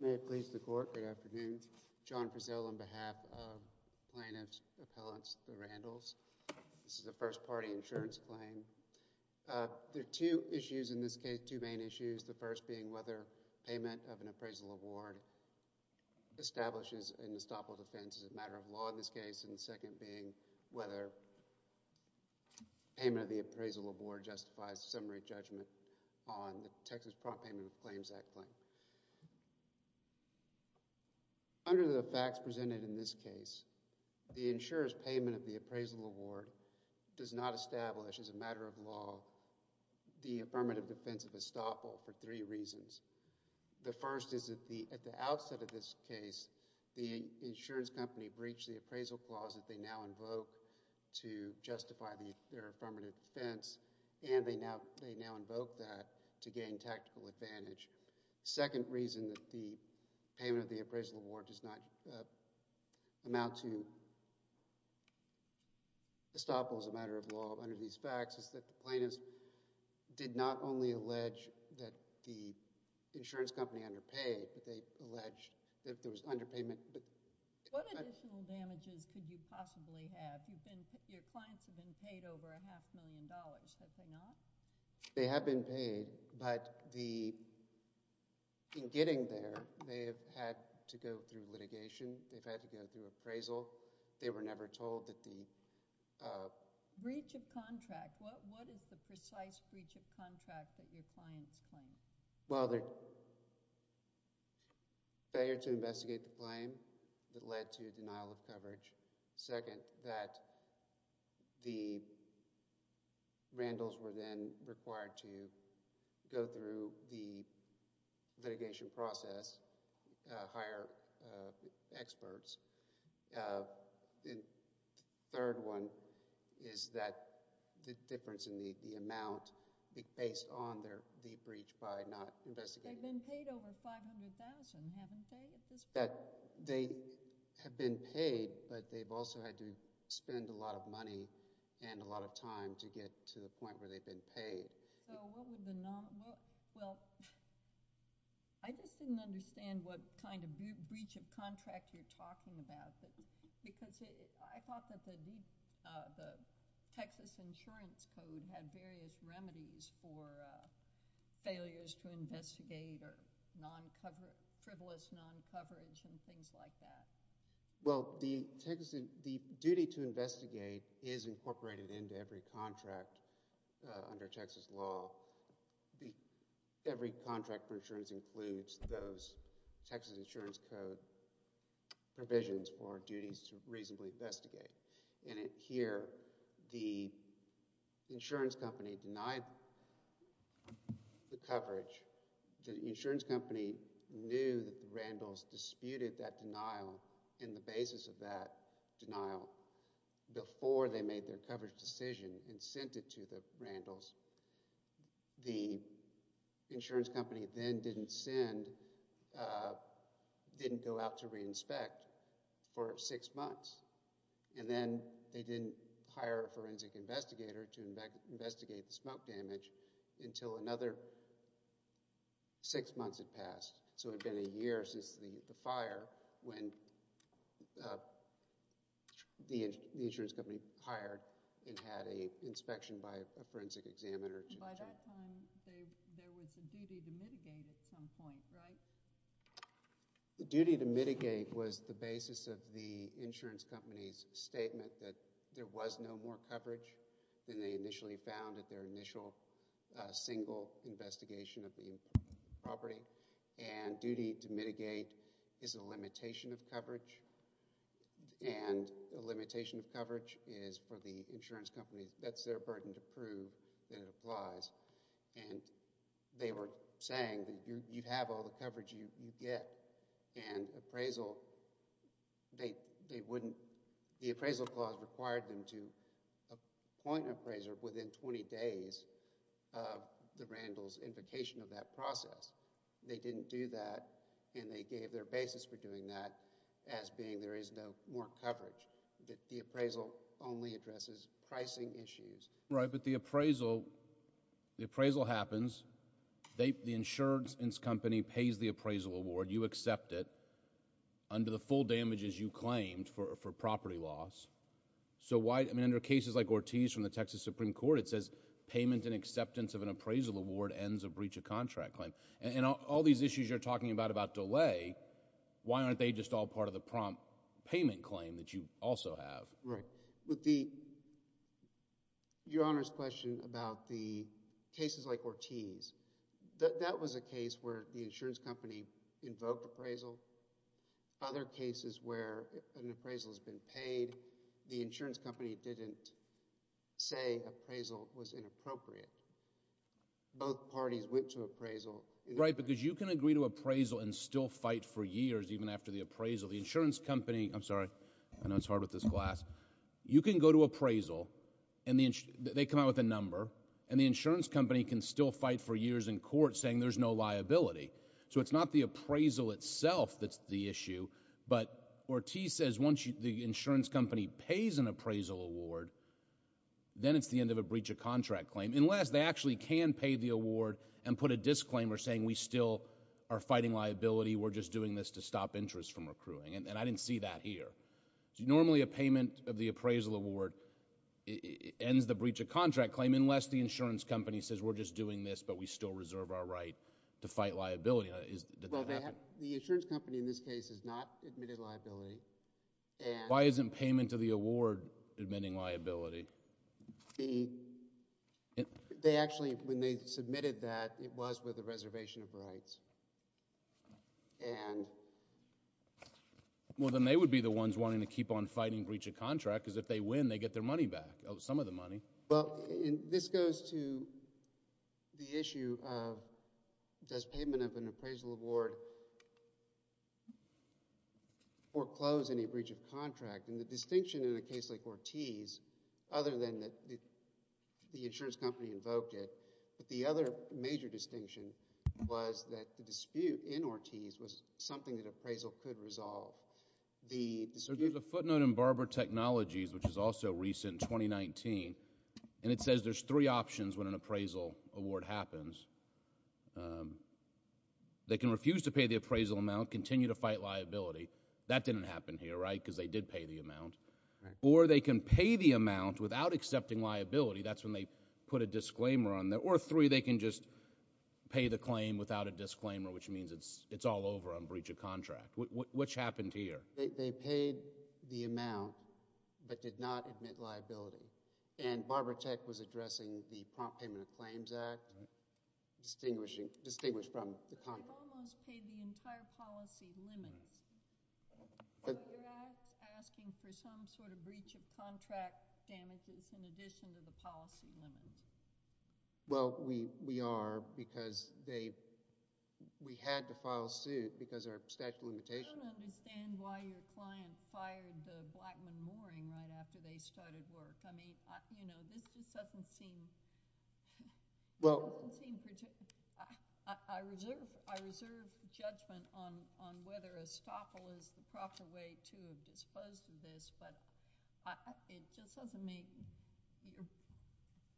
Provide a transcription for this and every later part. May it please the Court, good afternoon. John Prezell on behalf of Plaintiff's Appellants the Randles. This is a first party insurance claim. There are two issues in this case, two main issues. The first being whether payment of an appraisal award establishes an estoppel defense as a matter of law in this case and the second being whether payment of the appraisal award justifies a summary judgment on the Texas Prompt Payment of Claims Act claim. Under the facts presented in this case, the insurance payment of the appraisal award does not establish as a matter of law the affirmative defense of estoppel for three reasons. The first is that at the outset of this case, the insurance company breached the appraisal clause that they now invoke to justify their affirmative defense and they now invoke that to gain tactical advantage. The second reason that the payment of the appraisal award does not amount to estoppel as a matter of law under these facts is that the plaintiffs did not only allege that the insurance company underpaid, they allege that there was underpayment. What additional damages could you possibly have? Your clients have been paid over a half million dollars, have they not? They have been paid but in getting there, they have had to go through litigation, they've had to go through appraisal, they were never told that the breach of contract, what is the precise breach of contract that your clients claim? Well, their failure to investigate the claim that led to denial of coverage. Second, that the Randles were then required to go through the litigation process, hire experts. The third one is that the difference in the amount based on the breach by not investigating. They've been paid over $500,000, have they not at this point? They have been paid but they've also had to spend a lot of money and a lot of time to get to the point where they've been paid. I just didn't understand what kind of breach of contract you're talking about because I thought that the Texas insurance code had various remedies for failures to investigate or non-coverage, frivolous non-coverage and things like that. Well, the duty to investigate is incorporated into every contract under Texas law. Every contract for insurance includes those Texas insurance code provisions for duties to reasonably investigate. Here, the insurance company denied the coverage. The insurance company knew that the Randles disputed that denial and the basis of that denial before they made their coverage decision and sent it to the Randles. The insurance company then didn't go out to re-inspect for six months and then they didn't hire a forensic investigator to investigate the smoke damage until another six months had passed. It had been a year since the the insurance company hired and had an inspection by a forensic examiner. By that time, there was a duty to mitigate at some point, right? The duty to mitigate was the basis of the insurance company's statement that there was no more coverage than they initially found at their initial single investigation of the property and the duty to mitigate is a limitation of coverage and a limitation of coverage is for the insurance company. That's their burden to prove that it applies and they were saying that you have all the coverage you get and appraisal, they wouldn't, the appraisal clause required them to and they gave their basis for doing that as being there is no more coverage. The appraisal only addresses pricing issues. Right, but the appraisal, the appraisal happens. The insurance company pays the appraisal award. You accept it under the full damages you claimed for property loss. So why, I mean, under cases like Ortiz from the Texas Supreme Court, it says payment and acceptance of an appraisal award ends a breach of contract claim and all these issues you're talking about about delay, why aren't they just all part of the prompt payment claim that you also have? Right, with the, your honor's question about the cases like Ortiz, that was a case where the insurance company invoked appraisal. Other cases where an appraisal has been paid, the insurance company didn't say appraisal was inappropriate. Both parties went to appraisal. Right, because you can agree to appraisal and still fight for years even after the appraisal. The insurance company, I'm sorry, I know it's hard with this glass, you can go to appraisal and they come out with a number and the insurance company can still fight for years in court saying there's no liability. So it's not the appraisal itself that's the issue, but Ortiz says once the insurance company pays an appraisal award, then it's the end of a breach of contract claim unless they can pay the award and put a disclaimer saying we still are fighting liability, we're just doing this to stop interest from accruing. And I didn't see that here. Normally a payment of the appraisal award ends the breach of contract claim unless the insurance company says we're just doing this but we still reserve our right to fight liability. The insurance company in this case has not admitted liability. Why isn't payment of the award admitting liability? They actually, when they submitted that, it was with a reservation of rights. Well then they would be the ones wanting to keep on fighting breach of contract because if they win they get their money back, some of the money. Well this goes to the issue of does payment of appraisal award foreclose any breach of contract? And the distinction in a case like Ortiz, other than that the insurance company invoked it, but the other major distinction was that the dispute in Ortiz was something that appraisal could resolve. So there's a footnote in Barber Technologies which is also recent, 2019, and it says there's three options when an appraisal award happens. They can refuse to pay the appraisal amount, continue to fight liability. That didn't happen here, right, because they did pay the amount. Or they can pay the amount without accepting liability. That's when they put a disclaimer on there. Or three, they can just pay the claim without a disclaimer which means it's all over on breach of contract. What happened here? They paid the amount but did not admit liability. And Barber Tech was addressing the Prompt Payment of Claims Act, distinguishing, distinguished from the contract. They almost paid the entire policy limits. They're asking for some sort of breach of contract damages in addition to the policy limits. Well we are because they, we had to file suit because of our statute of limitations. I don't understand why your client fired the Blackman-Mooring right after they started work. I mean, you know, this just doesn't seem, well, I reserve judgment on whether Estoppel is the proper way to have disposed of this but it just doesn't make,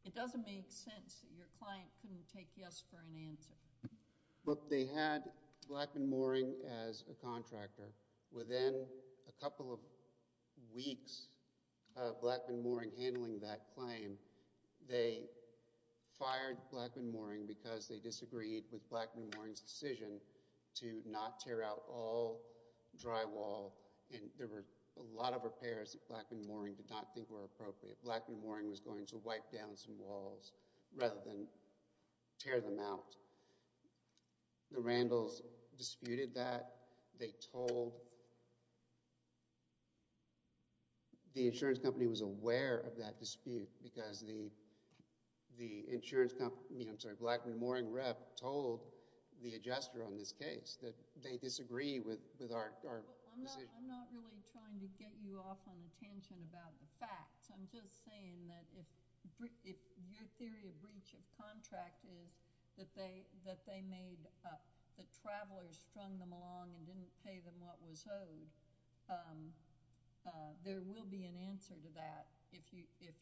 it doesn't make sense that your within a couple of weeks of Blackman-Mooring handling that claim, they fired Blackman-Mooring because they disagreed with Blackman-Mooring's decision to not tear out all drywall. And there were a lot of repairs that Blackman-Mooring did not think were appropriate. Blackman-Mooring was going to wipe down some walls rather than tear them out. The Randalls disputed that. They told, the insurance company was aware of that dispute because the insurance company, I'm sorry, Blackman-Mooring rep told the adjuster on this case that they disagree with our decision. I'm not really trying to get you off on a tangent about the facts. I'm just saying that if your theory of breach of contract is that they made, that travelers strung them along and didn't pay them what was owed, there will be an answer to that if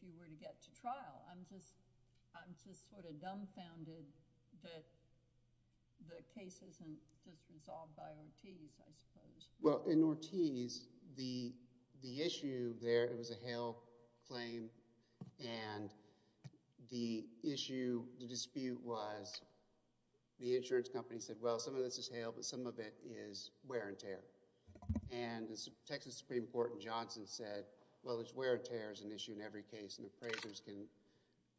you were to get to trial. I'm just saying that the issue there, it was a Hale claim and the issue, the dispute was the insurance company said, well, some of this is Hale, but some of it is wear and tear. And the Texas Supreme Court in Johnson said, well, it's wear and tear is an issue in every case and appraisers can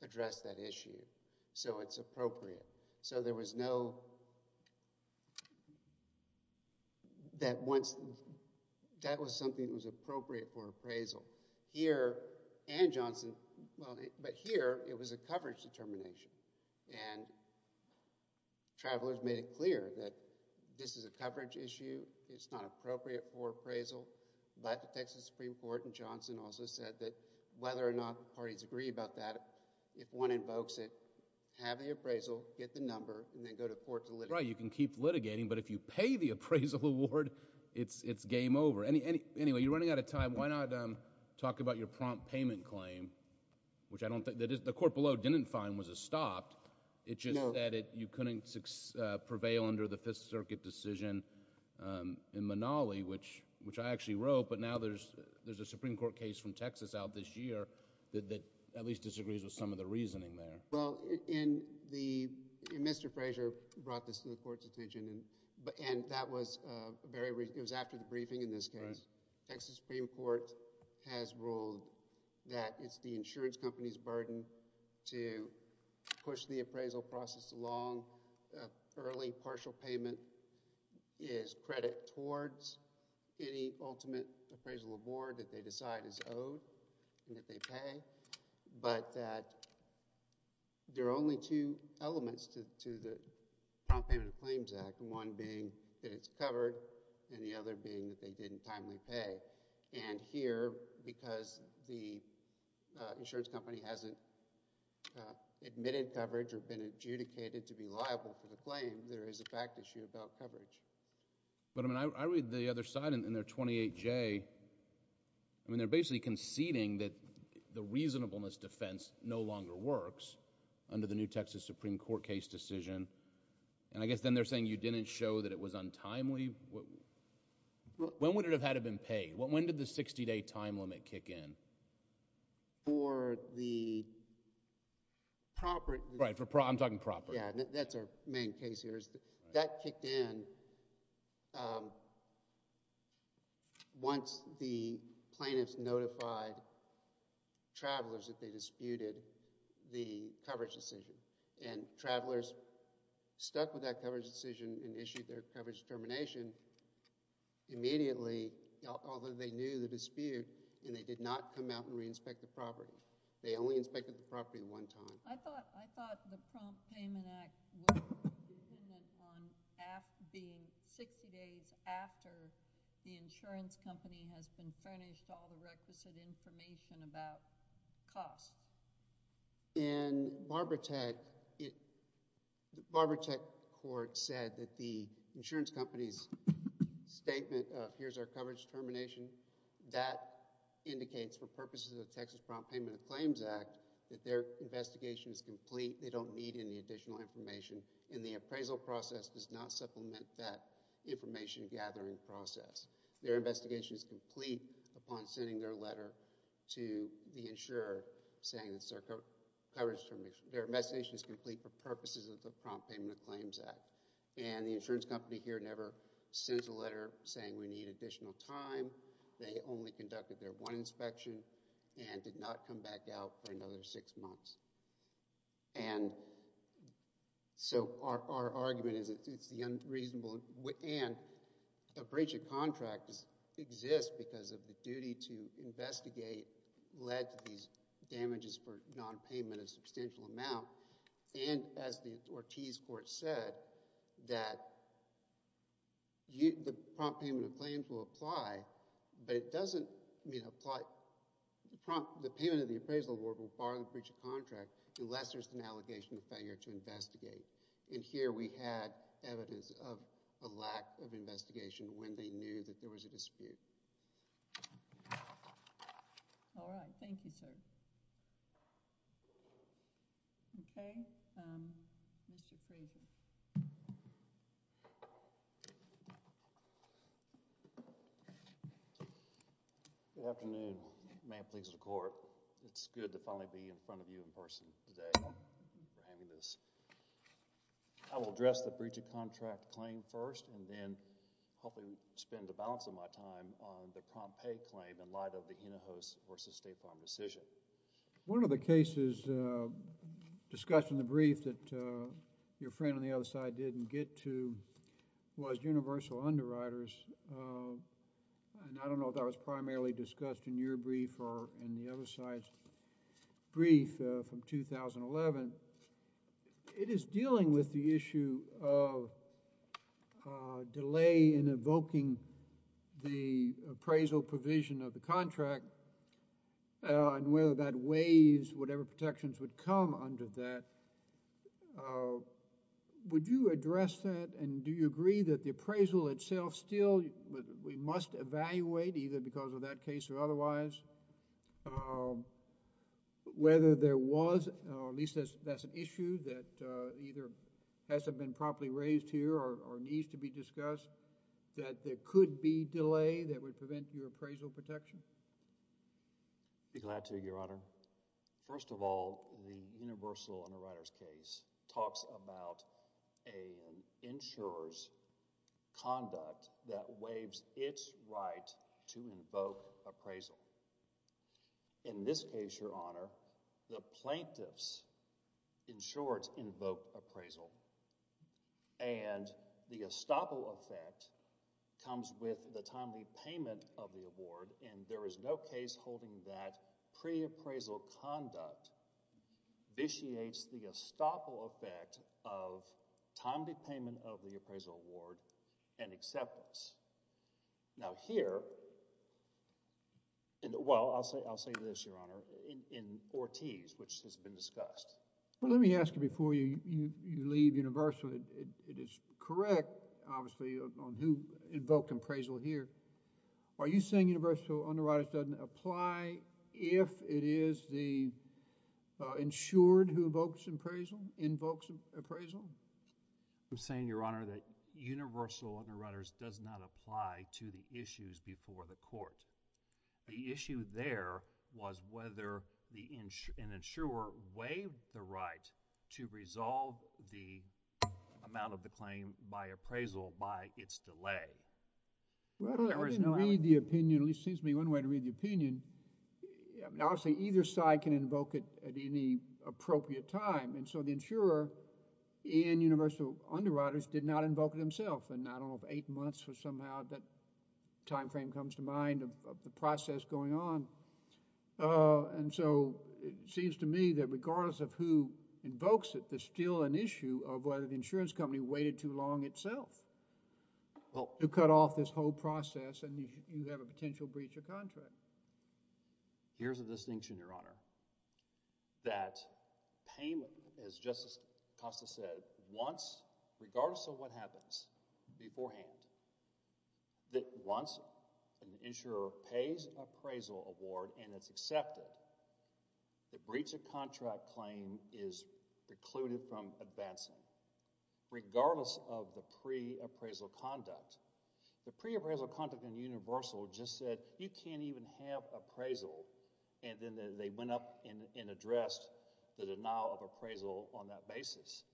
address that issue. So it's appropriate. So there was no, that once, that was something that was appropriate for appraisal. Here and Johnson, well, but here, it was a coverage determination and travelers made it clear that this is a coverage issue, it's not appropriate for appraisal, but the Texas Supreme Court in Johnson also said that whether or not the parties agree about that, if one invokes it, have the appraisal, get the number, and then go to court to litigate. Right, you can keep litigating, but if you pay the appraisal award, it's game over. Anyway, you're running out of time, why not talk about your prompt payment claim, which I don't think, the court below didn't find was a stop, it's just that you couldn't prevail under the Fifth Circuit decision in Manali, which I actually wrote, but now there's a Supreme Court case from Texas out this year that at least disagrees with some of the reasoning there. Well, in the, Mr. Frazier brought this to the court's attention, and that was very, it was after the briefing in this case, Texas Supreme Court has ruled that it's the insurance company's burden to push the appraisal process along, early partial payment is credit towards any ultimate appraisal award that they decide is owed and that they pay, but that there are only two elements to the Prompt Payment of Claims Act, one being that it's covered, and the other being that they didn't timely pay, and here, because the insurance company hasn't admitted coverage or been adjudicated to be liable for the claim, there is a fact issue about coverage. But I mean, I read the other side in their 28J, I mean, they're basically conceding that the reasonableness defense no longer works under the new Texas Supreme Court case decision, and I guess then they're saying you didn't show that it was untimely? When would it have had to have been paid? When did the sixty-day time limit kick in? For the property... Right, I'm talking property. That's our main case here. That kicked in once the plaintiffs notified travelers that they disputed the coverage decision, and travelers stuck with that coverage decision and issued their coverage termination immediately, although they knew the dispute, and they did not come out and re-inspect the property. They only inspected the property one time. I thought the Prompt Payment Act was determined on being sixty days after the insurance company has been furnished all the requisite information about costs. In Barbaratech, the Barbaratech court said that the insurance company's statement of here's our coverage termination, that indicates for purposes of the Texas Prompt Payment and Claims Act that their investigation is complete. They don't need any additional information, and the appraisal process does not supplement that information gathering process. Their investigation is complete upon sending their letter to the insurer saying it's their coverage termination. Their investigation is complete for purposes of the Prompt Payment and Claims Act, and the insurance company here never sends a letter saying we need additional time. They only conducted their one inspection and did not come back out for another six months, and so our argument is it's unreasonable, and a breach of contract exists because of the duty to investigate led to these damages for non-payment a substantial amount, and as the Ortiz Court said, that the Prompt Payment and Claims will apply, but it doesn't mean apply, the payment of the appraisal award will bar the breach of contract unless there's an allegation of failure to investigate, and here we had evidence of a lack of investigation when they knew that there was a dispute. All right, thank you, sir. Okay, Mr. Craven. Good afternoon. May it please the Court, it's good to finally be in front of you in person today for having this. I will address the breach of contract claim first and then hopefully spend the balance of my time on the prompt pay claim in light of the Inehos versus State Farm decision. One of the cases discussed in the brief that your friend on the other side didn't get to was universal underwriters, and I don't know if that was primarily discussed in your brief or in the other side's brief from 2011. It is dealing with the in evoking the appraisal provision of the contract and whether that weighs whatever protections would come under that. Would you address that, and do you agree that the appraisal itself still, we must evaluate either because of that case or otherwise, whether there was, at least that's an issue that either hasn't been properly raised here or needs to be discussed, that there could be delay that would prevent your appraisal protection? I'd be glad to, Your Honor. First of all, the universal underwriters case talks about an insurer's conduct that waives its right to invoke appraisal. In this case, Your Honor, the plaintiffs, insurers invoke appraisal, and the estoppel effect comes with the timely payment of the award, and there is no case holding that preappraisal conduct vitiates the estoppel effect of timely payment of the appraisal award and acceptance. Now here, in the, well, I'll say this, Your Honor, in Ortiz, which has been discussed. Well, let me ask you before you leave universal. It is correct, obviously, invoke appraisal here. Are you saying universal underwriters doesn't apply if it is the insured who invokes appraisal? I'm saying, Your Honor, that universal underwriters does not apply to the issues before the court. The issue there was whether an insurer waived the right to resolve the amount of the claim by appraisal by its delay. Well, I didn't read the opinion, at least it seems to me one way to read the opinion. Obviously, either side can invoke it at any appropriate time, and so the insurer in universal underwriters did not invoke it himself, and I don't know if eight months was somehow that time frame comes to mind of the process going on, and so it seems to me that regardless of who invokes it, there's still an issue of whether the insurance company waited too long itself to cut off this whole process, and you have a potential breach of contract. Here's a distinction, Your Honor, that payment, as Justice Costa said, once, regardless of what happens beforehand, that once an insurer pays appraisal award and it's accepted, the breach of contract claim is precluded from advancing, regardless of the pre-appraisal conduct. The pre-appraisal conduct in universal just said, you can't even have appraisal, and then they went up and addressed the denial of appraisal on that basis.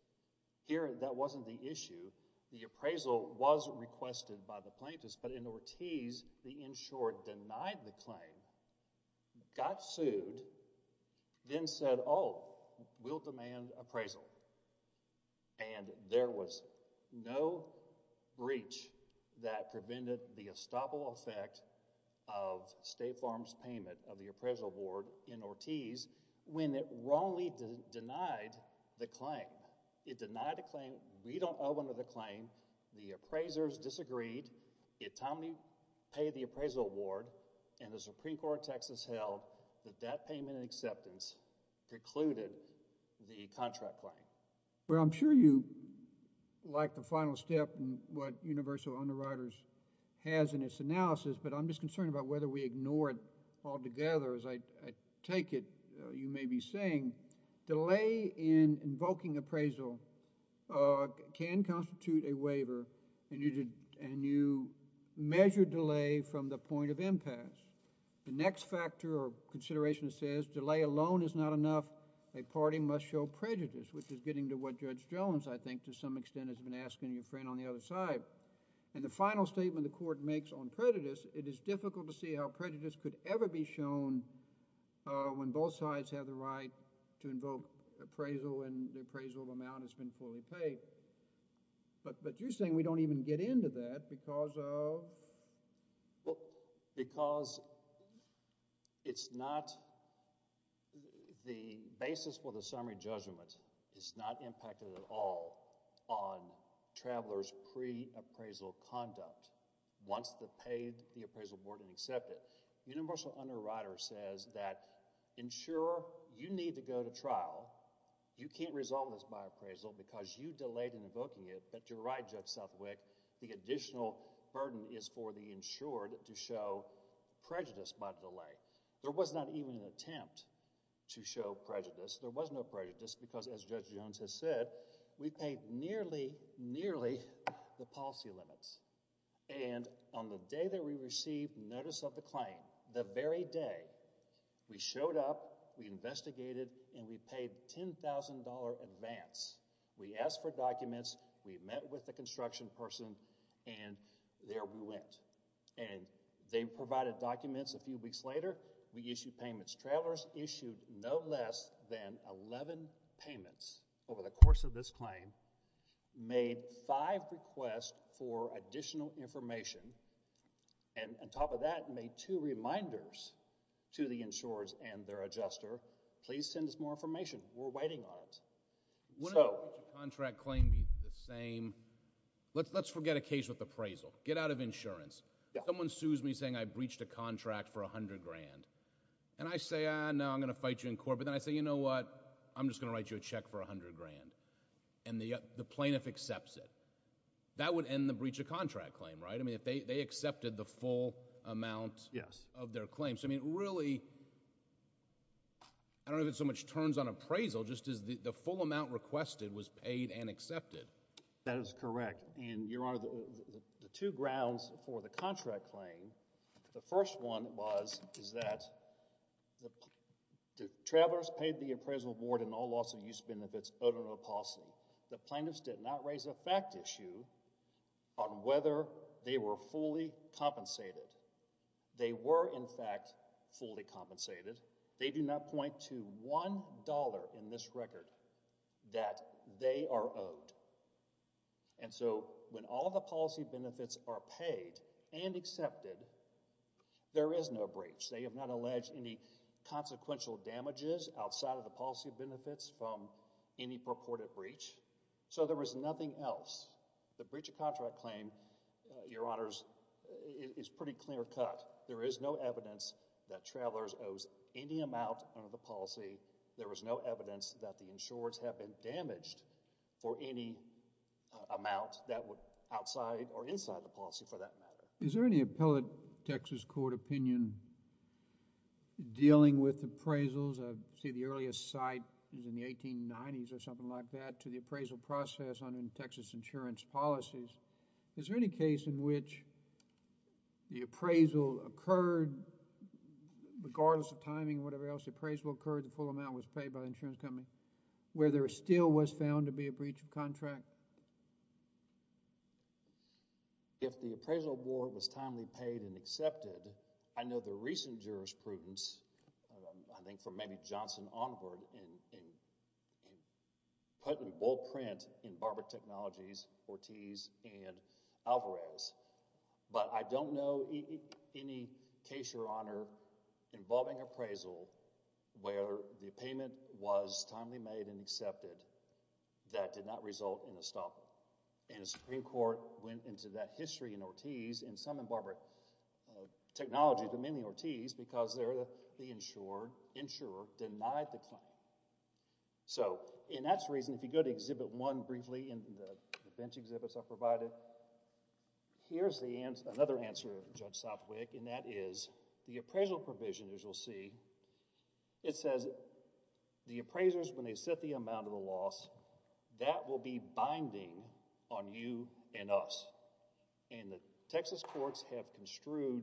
Here, that wasn't the issue. The appraisal was requested by the plaintiffs, but in Ortiz, the insurer denied the that prevented the estoppel effect of State Farm's payment of the appraisal award in Ortiz when it wrongly denied the claim. It denied the claim. We don't owe another claim. The appraisers disagreed. It told me pay the appraisal award, and the Supreme Court text has held that that payment and acceptance concluded the contract claim. Well, I'm sure you like the final step and what Universal Underwriters has in its analysis, but I'm just concerned about whether we ignore it altogether. As I take it, you may be saying delay in invoking appraisal can constitute a waiver, and you measure delay from the point of impasse. The next factor or consideration says delay alone is not enough. A parting must show prejudice, which is getting to what Judge Jones, I think, to some extent has been asking your friend on the other side. And the final statement the Court makes on prejudice, it is difficult to see how prejudice could ever be shown when both sides have the right to invoke appraisal and the appraisal amount has been fully paid. But you're saying we don't even get into that because of? Well, because it's not—the basis for the summary judgment is not impacted at all on travelers' pre-appraisal conduct. Once they've paid the appraisal award and accepted, Universal Underwriters says that insurer, you need to go to trial. You can't resolve this by appraisal because you delayed in invoking it, but you're right, Judge Southwick, the additional burden is for the insured to show prejudice by delay. There was not even an attempt to show prejudice. There was no prejudice because, as Judge Jones has said, we paid nearly, nearly the policy limits. And on the day that we received notice of the claim, the very day, we showed up, we investigated, and we paid $10,000 advance. We asked for documents, we met with the construction person, and there we went. And they provided documents. A few weeks later, we issued payments. Travelers issued no less than 11 payments over the course of this claim, made five requests for additional information, and on top of that, made two reminders to the insurers and their adjuster, please send us more information. We're waiting on it. Would a contract claim be the same? Let's forget a case with appraisal. Get out of insurance. Someone sues me saying I breached a contract for $100,000. And I say, ah, no, I'm going to fight you in court. But then I say, you know what? I'm just going to write you a check for $100,000. And the plaintiff accepts it. That would end the breach of contract claim, right? I mean, if they accepted the full amount of their claim. So, I mean, really, I don't know if it's turns on appraisal, just as the full amount requested was paid and accepted. That is correct. And, Your Honor, the two grounds for the contract claim, the first one was, is that the travelers paid the appraisal board in all loss of use benefits out of a policy. The plaintiffs did not raise a fact issue on whether they were fully compensated. They were, in fact, fully compensated. They do not point to $1 in this record that they are owed. And so, when all the policy benefits are paid and accepted, there is no breach. They have not alleged any consequential damages outside of the policy benefits from any purported breach. So, there was nothing else. The breach of contract claim, Your Honors, is pretty clear cut. There is no evidence that travelers owes any amount under the policy. There was no evidence that the insurers have been damaged for any amount that were outside or inside the policy, for that matter. Is there any appellate Texas court opinion dealing with appraisals? I see the earliest site is in the 1890s or something like that, to the appraisal process under Texas insurance policies. Is there any case in which the appraisal occurred, regardless of timing, whatever else, the appraisal occurred, the full amount was paid by the insurance company, where there still was found to be a breach of contract? If the appraisal board was timely paid and accepted, I know the recent jurisprudence, I think from maybe Johnson onward, put in bold print in Barber Technologies, Ortiz, and Alvarez, but I don't know any case, Your Honor, involving appraisal where the payment was timely made and accepted that did not result in a stop. And the Supreme Court went into that history in Ortiz and some in Barber Technologies, but mainly Ortiz, because the insurer denied the claim. So, and that's the reason, if you go to Exhibit 1 briefly in the bench exhibits I provided, here's another answer, Judge Southwick, and that is the appraisal provision, as you'll see, it says the appraisers, when they set the amount of the loss, that will be binding on you and us. And the Texas courts have construed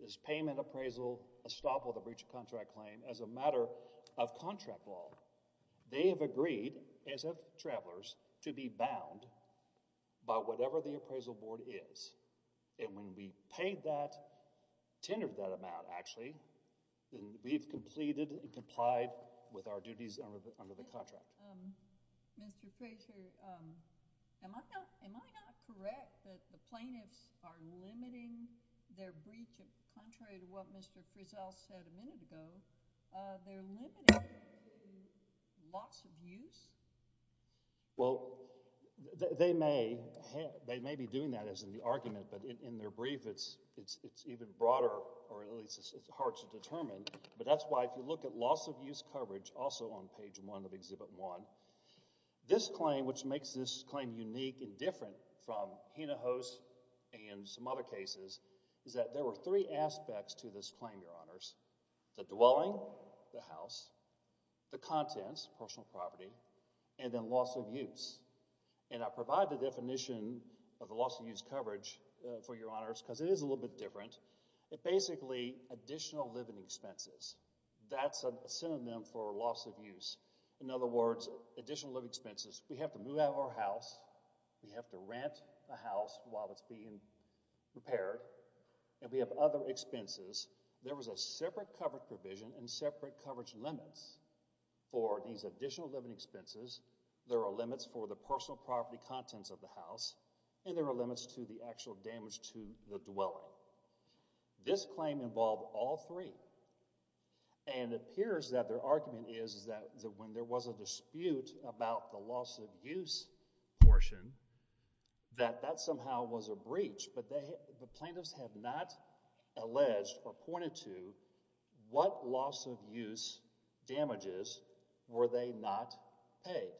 this payment appraisal, a stop on a breach of contract claim, as a matter of contract law. They have agreed, as have travelers, to be bound by whatever the appraisal board is. And when we paid that, tendered that amount, actually, then we've completed and complied with our duties under the contract. Mr. Frazier, am I not, am I not correct that the plaintiffs are limiting their breach of, contrary to what Mr. Frizzell said a minute ago, they're limiting loss of use? Well, they may, they may be doing that, as in the argument, but in their brief it's, it's, it's even broader, or at least it's hard to determine, but that's why, if you look at Exhibit 1, this claim, which makes this claim unique and different from Hinojos and some other cases, is that there were three aspects to this claim, Your Honors. The dwelling, the house, the contents, personal property, and then loss of use. And I provide the definition of the loss of use coverage for Your Honors, because it is a little bit different. It's basically additional living expenses. That's a synonym for loss of use. In other words, additional living expenses, we have to move out of our house, we have to rent a house while it's being repaired, and we have other expenses. There was a separate coverage provision and separate coverage limits for these additional living expenses. There are limits for the personal property contents of the house, and there are limits to the actual damage to the dwelling. This claim involved all three, and it appears that their argument is that when there was a dispute about the loss of use portion, that that somehow was a breach, but the plaintiffs have not alleged or pointed to what loss of use damages were they not paid.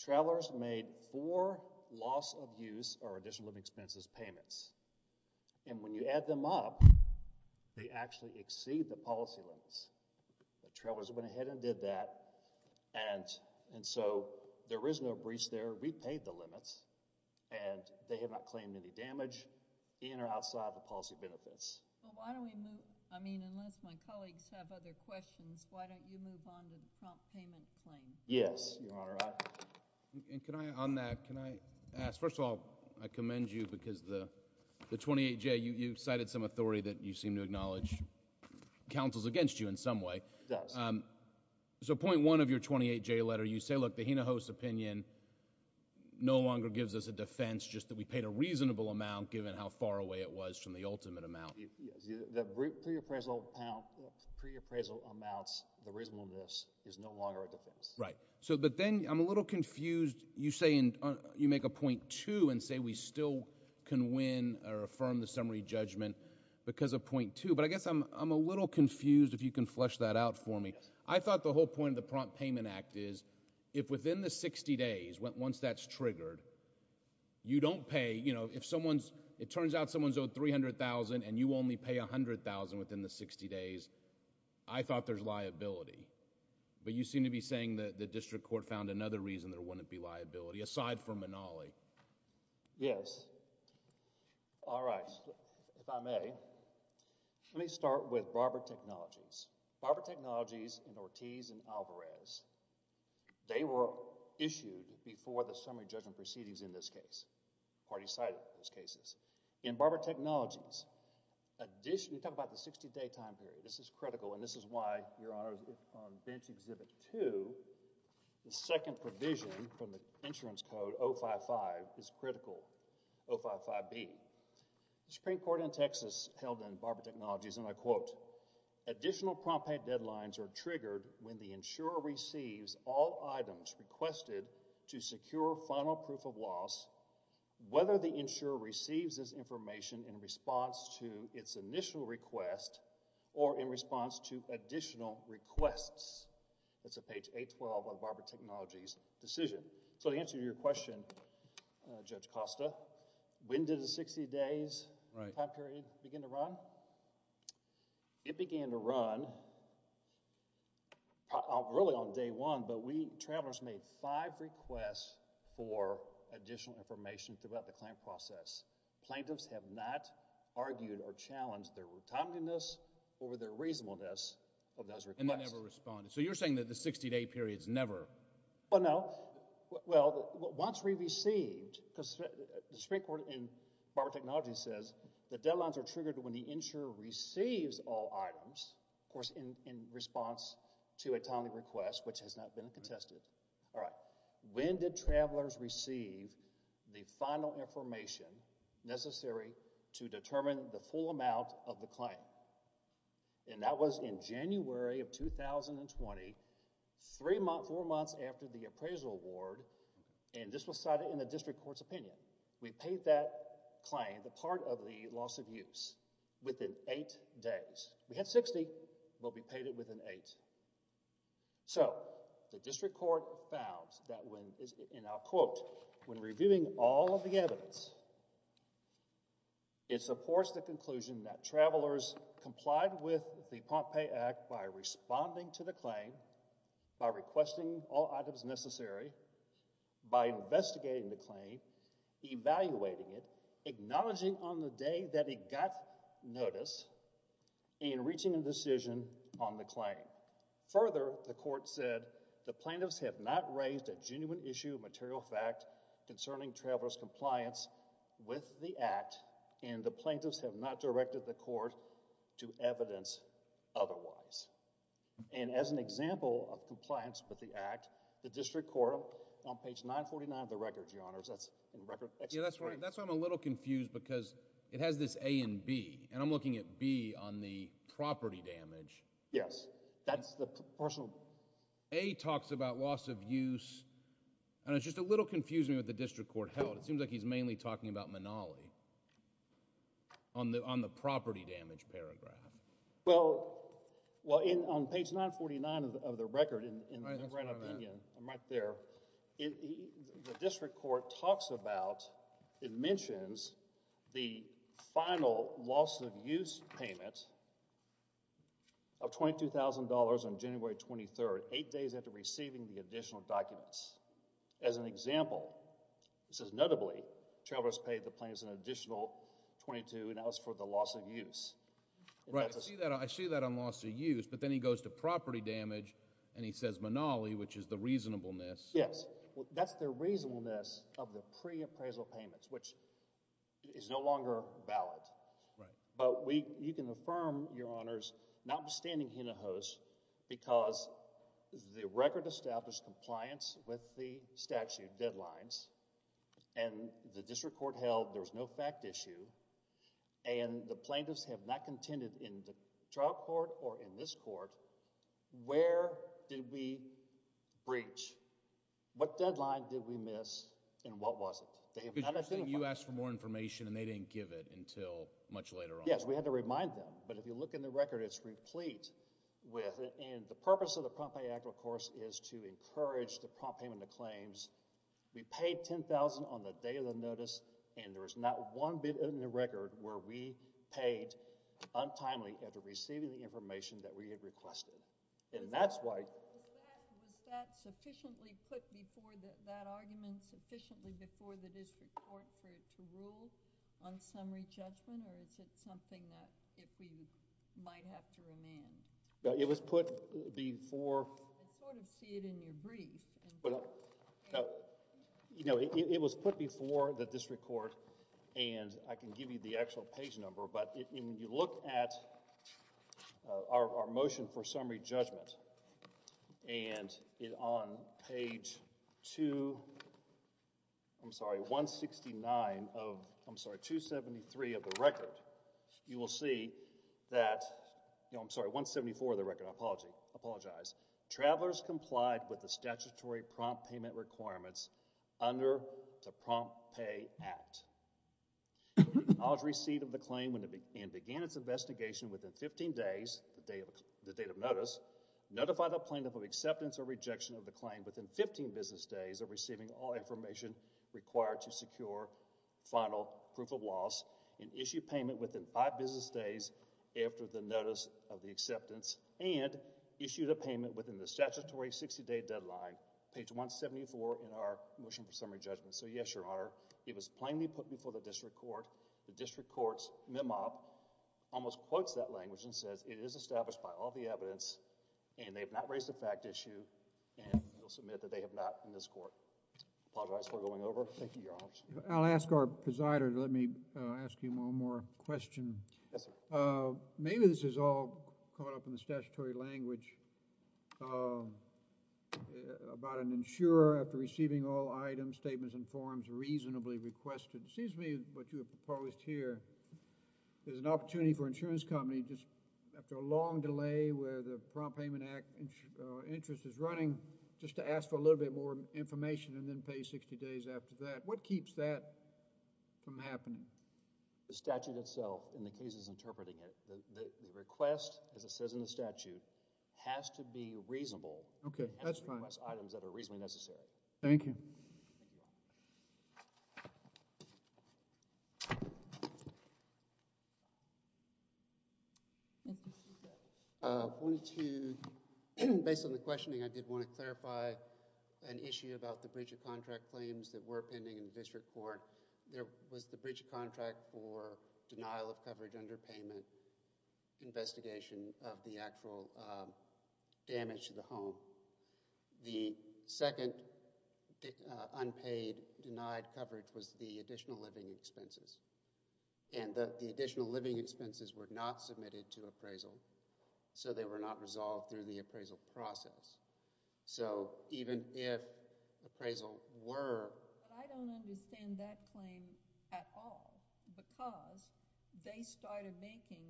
Travelers made four loss of use, or additional living expenses, payments. And when you add them up, they actually exceed the policy limits. The travelers went ahead and did that, and so there is no breach there. We paid the limits, and they have not claimed any damage in or outside the policy benefits. But why don't we move, I mean, unless my colleagues have other questions, why don't you move on to the Trump payment claim? Yes, Your Honor, I... And can I, on that, can I ask, first of all, I commend you because the 28-J, you cited some authority that you seem to acknowledge, counsels against you in some way. It does. So point one of your 28-J letter, you say, look, the Hinojosa opinion no longer gives us a defense just that we paid a reasonable amount given how far away it was from the ultimate amount. The pre-appraisal amount, pre-appraisal amounts, the reasonableness, is no longer a defense. Right. So, but then I'm a little confused, you say, you make a point two and say we still can win or affirm the summary judgment because of point two, but I guess I'm a little confused if you can flesh that out for me. I thought the whole point of the prompt payment act is if within the 60 days, once that's triggered, you don't pay, you know, if someone's, it turns out someone's owed $300,000 and you only pay $100,000 within the 60 days, I thought there's something wrong with that. I mean, you're saying that the district court found another reason there wouldn't be liability aside from Manali. Yes. All right. If I may, let me start with Barber Technologies. Barber Technologies and Ortiz and Alvarez, they were issued before the summary judgment proceedings in this case, party-sided in those cases. In Barber Technologies, additionally, we talk about the 60-day time period. This is critical and this is why, Your Honor, on bench exhibit two, the second provision from the insurance code 055 is critical, 055B. The Supreme Court in Texas held in Barber Technologies and I quote, additional prompt pay deadlines are triggered when the insurer receives all items requested to secure final proof of loss, whether the insurer receives this information in response to its initial request or in response to additional requests. That's on page 812 of Barber Technologies' decision. So, to answer your question, Judge Costa, when did the 60 days time period begin to run? It began to run really on day one, but we, travelers, made five requests for additional information throughout the claim process. Plaintiffs have not argued or challenged their timeliness or their reasonableness of those requests. And they never responded. So, you're saying that the 60-day period's never? Well, no. Well, once we received, because the Supreme Court in Barber Technologies says the deadlines are triggered when the insurer receives all items, of course, in response to a timely request, which has not been contested. All right. When did travelers receive the final information necessary to determine the full amount of the claim? And that was in January of 2020, three months, four months after the appraisal award, and this was cited in the district court's opinion. We paid that claim, the part of the loss of use, within eight days. We had 60, but we paid it within eight. So, the district court found that when, and I'll quote, when reviewing all of the evidence, it supports the conclusion that travelers complied with the Pompeii Act by responding to the claim, by requesting all items necessary, by investigating the claim, evaluating it, acknowledging on the day that it got notice, and reaching a decision on the claim. Further, the court said, the plaintiffs have not raised a genuine issue of material fact concerning travelers' compliance with the Act, and the plaintiffs have not directed the court to evidence otherwise. And as an example of compliance with the Act, the district court, on page 949 of the record, Your Honors, that's in record... Yeah, that's right. That's why I'm a little confused, because it has this A and B, and I'm looking at B on the property damage. Yes, that's the A. A talks about loss of use, and it's just a little confusing what the district court held. It seems like he's mainly talking about Manali on the property damage paragraph. Well, on page 949 of the record, in the grand opinion, I'm right there, the district court talks about, it mentions, the final loss of use payment of $22,000 on January 23rd, 8 days after receiving the additional documents. As an example, it says, notably, travelers paid the plaintiffs an additional $22,000, and that was for the loss of use. Right, I see that on loss of use, but then he goes to property damage, and he says Manali, which is the reasonableness. Yes, that's the reasonableness of the pre-appraisal payments, which is no longer valid. Right. But you can affirm, Your Honors, notwithstanding Hinojos, because the record established compliance with the statute deadlines, and the district court held there was no fact issue, and the plaintiffs have not contended in the trial court or in this case, the district court. I think you asked for more information, and they didn't give it until much later on. Yes, we had to remind them, but if you look in the record, it's replete with, and the purpose of the Prompt Pay Act, of course, is to encourage the prompt payment of claims. We paid $10,000 on the day of the notice, and there was not one bit in the record where we paid untimely after receiving the information that we had requested, and that's why. Was that sufficiently put before, that argument, sufficiently before the district court for it to rule on summary judgment, or is it something that, if we might have to amend? Well, it was put before. I sort of see it in your brief. You know, it was put before the district court, and I can give you the actual page number, but when you look at our motion for summary judgment, and on page two, I'm sorry, 169 of, I'm sorry, 273 of the record, you will see that, you know, I'm sorry, 174 of the record. I apologize. Travelers complied with the statutory prompt payment requirements under the Prompt Pay Act. Acknowledge receipt of the claim and began its acceptance or rejection of the claim within 15 business days of receiving all information required to secure final proof of loss and issue payment within five business days after the notice of the acceptance and issued a payment within the statutory 60-day deadline, page 174 in our motion for summary judgment. So, yes, Your Honor, it was plainly put before the district court. The district court's memo almost quotes that language and says it is established by all the district courts. So, yes, Your Honor, it was put before the district court, and I apologize for going over. Thank you, Your Honor. I'll ask our presider to let me ask him one more question. Yes, sir. Maybe this is all caught up in the statutory language about an insurer after receiving all items, statements, and forms reasonably requested. It seems to me what you have proposed here, there's an opportunity for insurance companies after a long delay where the Prompt Payment Act interest is running just to ask for a little bit more information and then pay 60 days after that. What keeps that from happening? The statute itself in the case is interpreting it. The request, as it says in the statute, has to be reasonable. Okay, that's fine. Items that are reasonably necessary. Thank you. I wanted to, based on the questioning, I did want to clarify an issue about the breach of contract claims that were pending in the district court. There was the breach of contract for the second unpaid denied coverage was the additional living expenses. And the additional living expenses were not submitted to appraisal, so they were not resolved through the appraisal process. So even if appraisal were... I don't understand that claim at all because they started making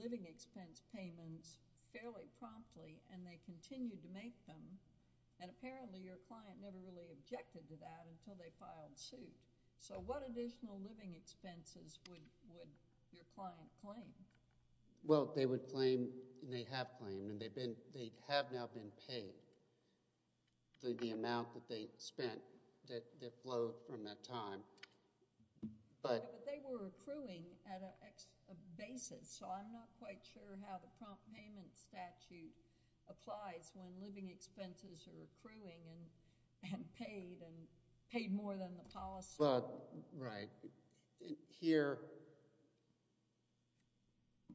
living expense payments fairly promptly and they continued to make them, and apparently your client never really objected to that until they filed suit. So what additional living expenses would your client claim? Well, they would claim, and they have claimed, and they have now been paid through the amount that they spent that flowed from that time. But they were accruing at an extra basis, so I'm not quite sure how the prompt payment statute applies when living expenses are accruing and paid, and paid more than the policy. Right. Here,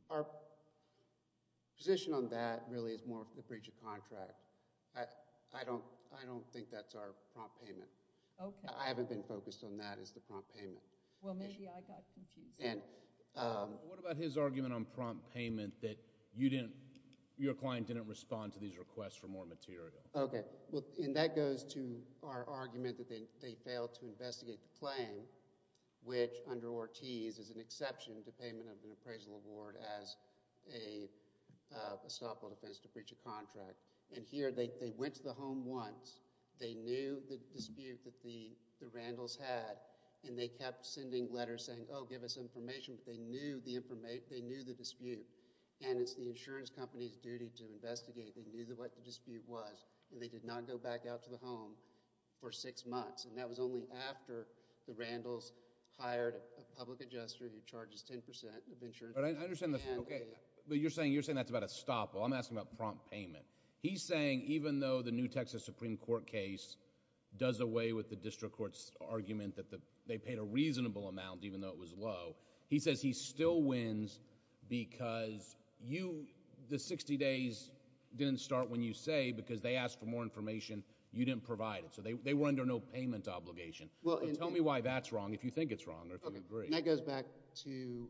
our position on that really is more for the breach of contract. I don't think that's our prompt payment. Okay. I haven't been focused on that as the prompt payment. Well, maybe I got confused. What about his argument on prompt payment that your client didn't respond to these requests for more material? Okay. Well, and that goes to our argument that they failed to investigate the claim, which under Ortiz is an exception to payment of an appraisal award as a stop on offense to breach a contract. And here, they went to the home once. They knew the dispute that the Randalls had, and they kept sending letters saying, oh, give us information. They knew the dispute, and it's the insurance company's duty to investigate. They knew what the dispute was, and they did not go back out to the home for six months, and that was only after the Randalls hired a public adjuster who charges 10 percent of insurance. But I understand that. Okay. But you're saying that's about a stop. Well, I'm asking about prompt payment. He's saying even though the New Texas Supreme Court case does away with the district court's argument that they paid a reasonable amount even though it was low, he says he still wins because the 60 days didn't start when you say, because they asked for more information, you didn't provide it. So they were under no payment obligation. Tell me why that's wrong if you think it's wrong or if you agree. That goes back to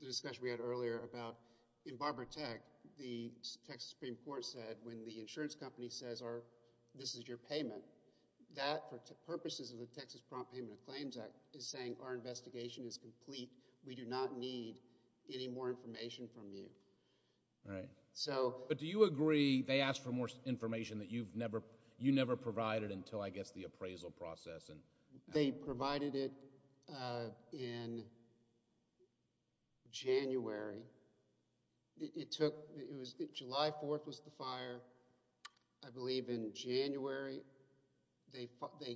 the discussion we had earlier about in Barber Tech, the Texas Supreme Court said when the insurance company says this is your payment, that for purposes of the Texas Prompt Payment of Claims Act is saying our investigation is complete. We do not need any more information from you. Right. But do you agree they asked for more information that you never provided until, I guess, the appraisal process? They provided it in January. July 4th was the fire. I believe in January they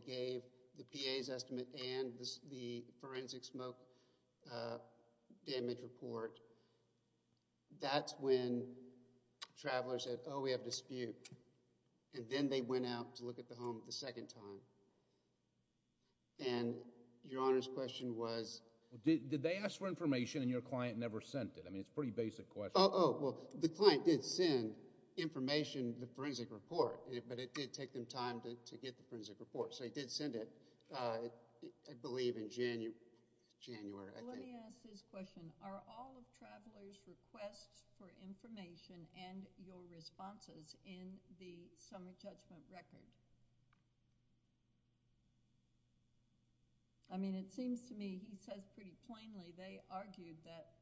gave the PA's estimate and the went out to look at the home the second time. And your Honor's question was? Did they ask for information and your client never sent it? I mean, it's a pretty basic question. Oh, well, the client did send information, the forensic report, but it did take them time to get the forensic report. So he did send it, I believe, in January. Let me ask this question. Are all records in the summary judgment record? I mean, it seems to me he says pretty plainly they argued that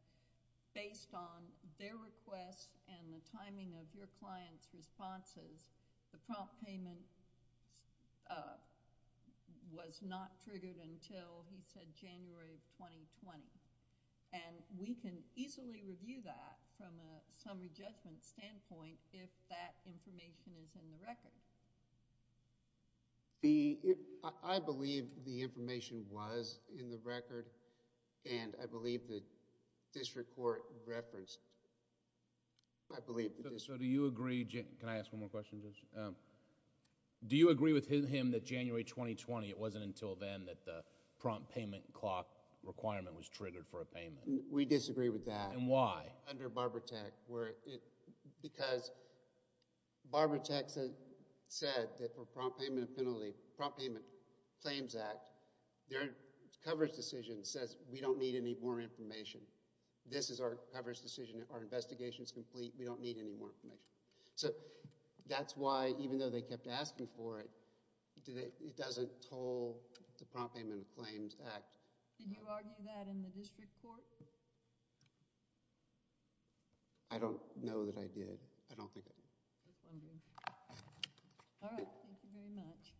based on their request and the timing of your client's responses, the prompt payment was not triggered until, he said, January of 2020. And we can easily review that from a record. I believe the information was in the record and I believe the district court referenced. I believe. So do you agree? Can I ask one more question? Do you agree with him that January 2020, it wasn't until then that the prompt payment clock requirement was triggered for a payment? We disagree with that. And why? Under Barber Tech, because Barber Tech said that for prompt payment of penalty, prompt payment claims act, their coverage decision says we don't need any more information. This is our coverage decision. Our investigation is complete. We don't need any more information. So that's why even though they kept asking for it, it doesn't toll the district. I don't know that I did. I don't think I did. All right. Thank you very much.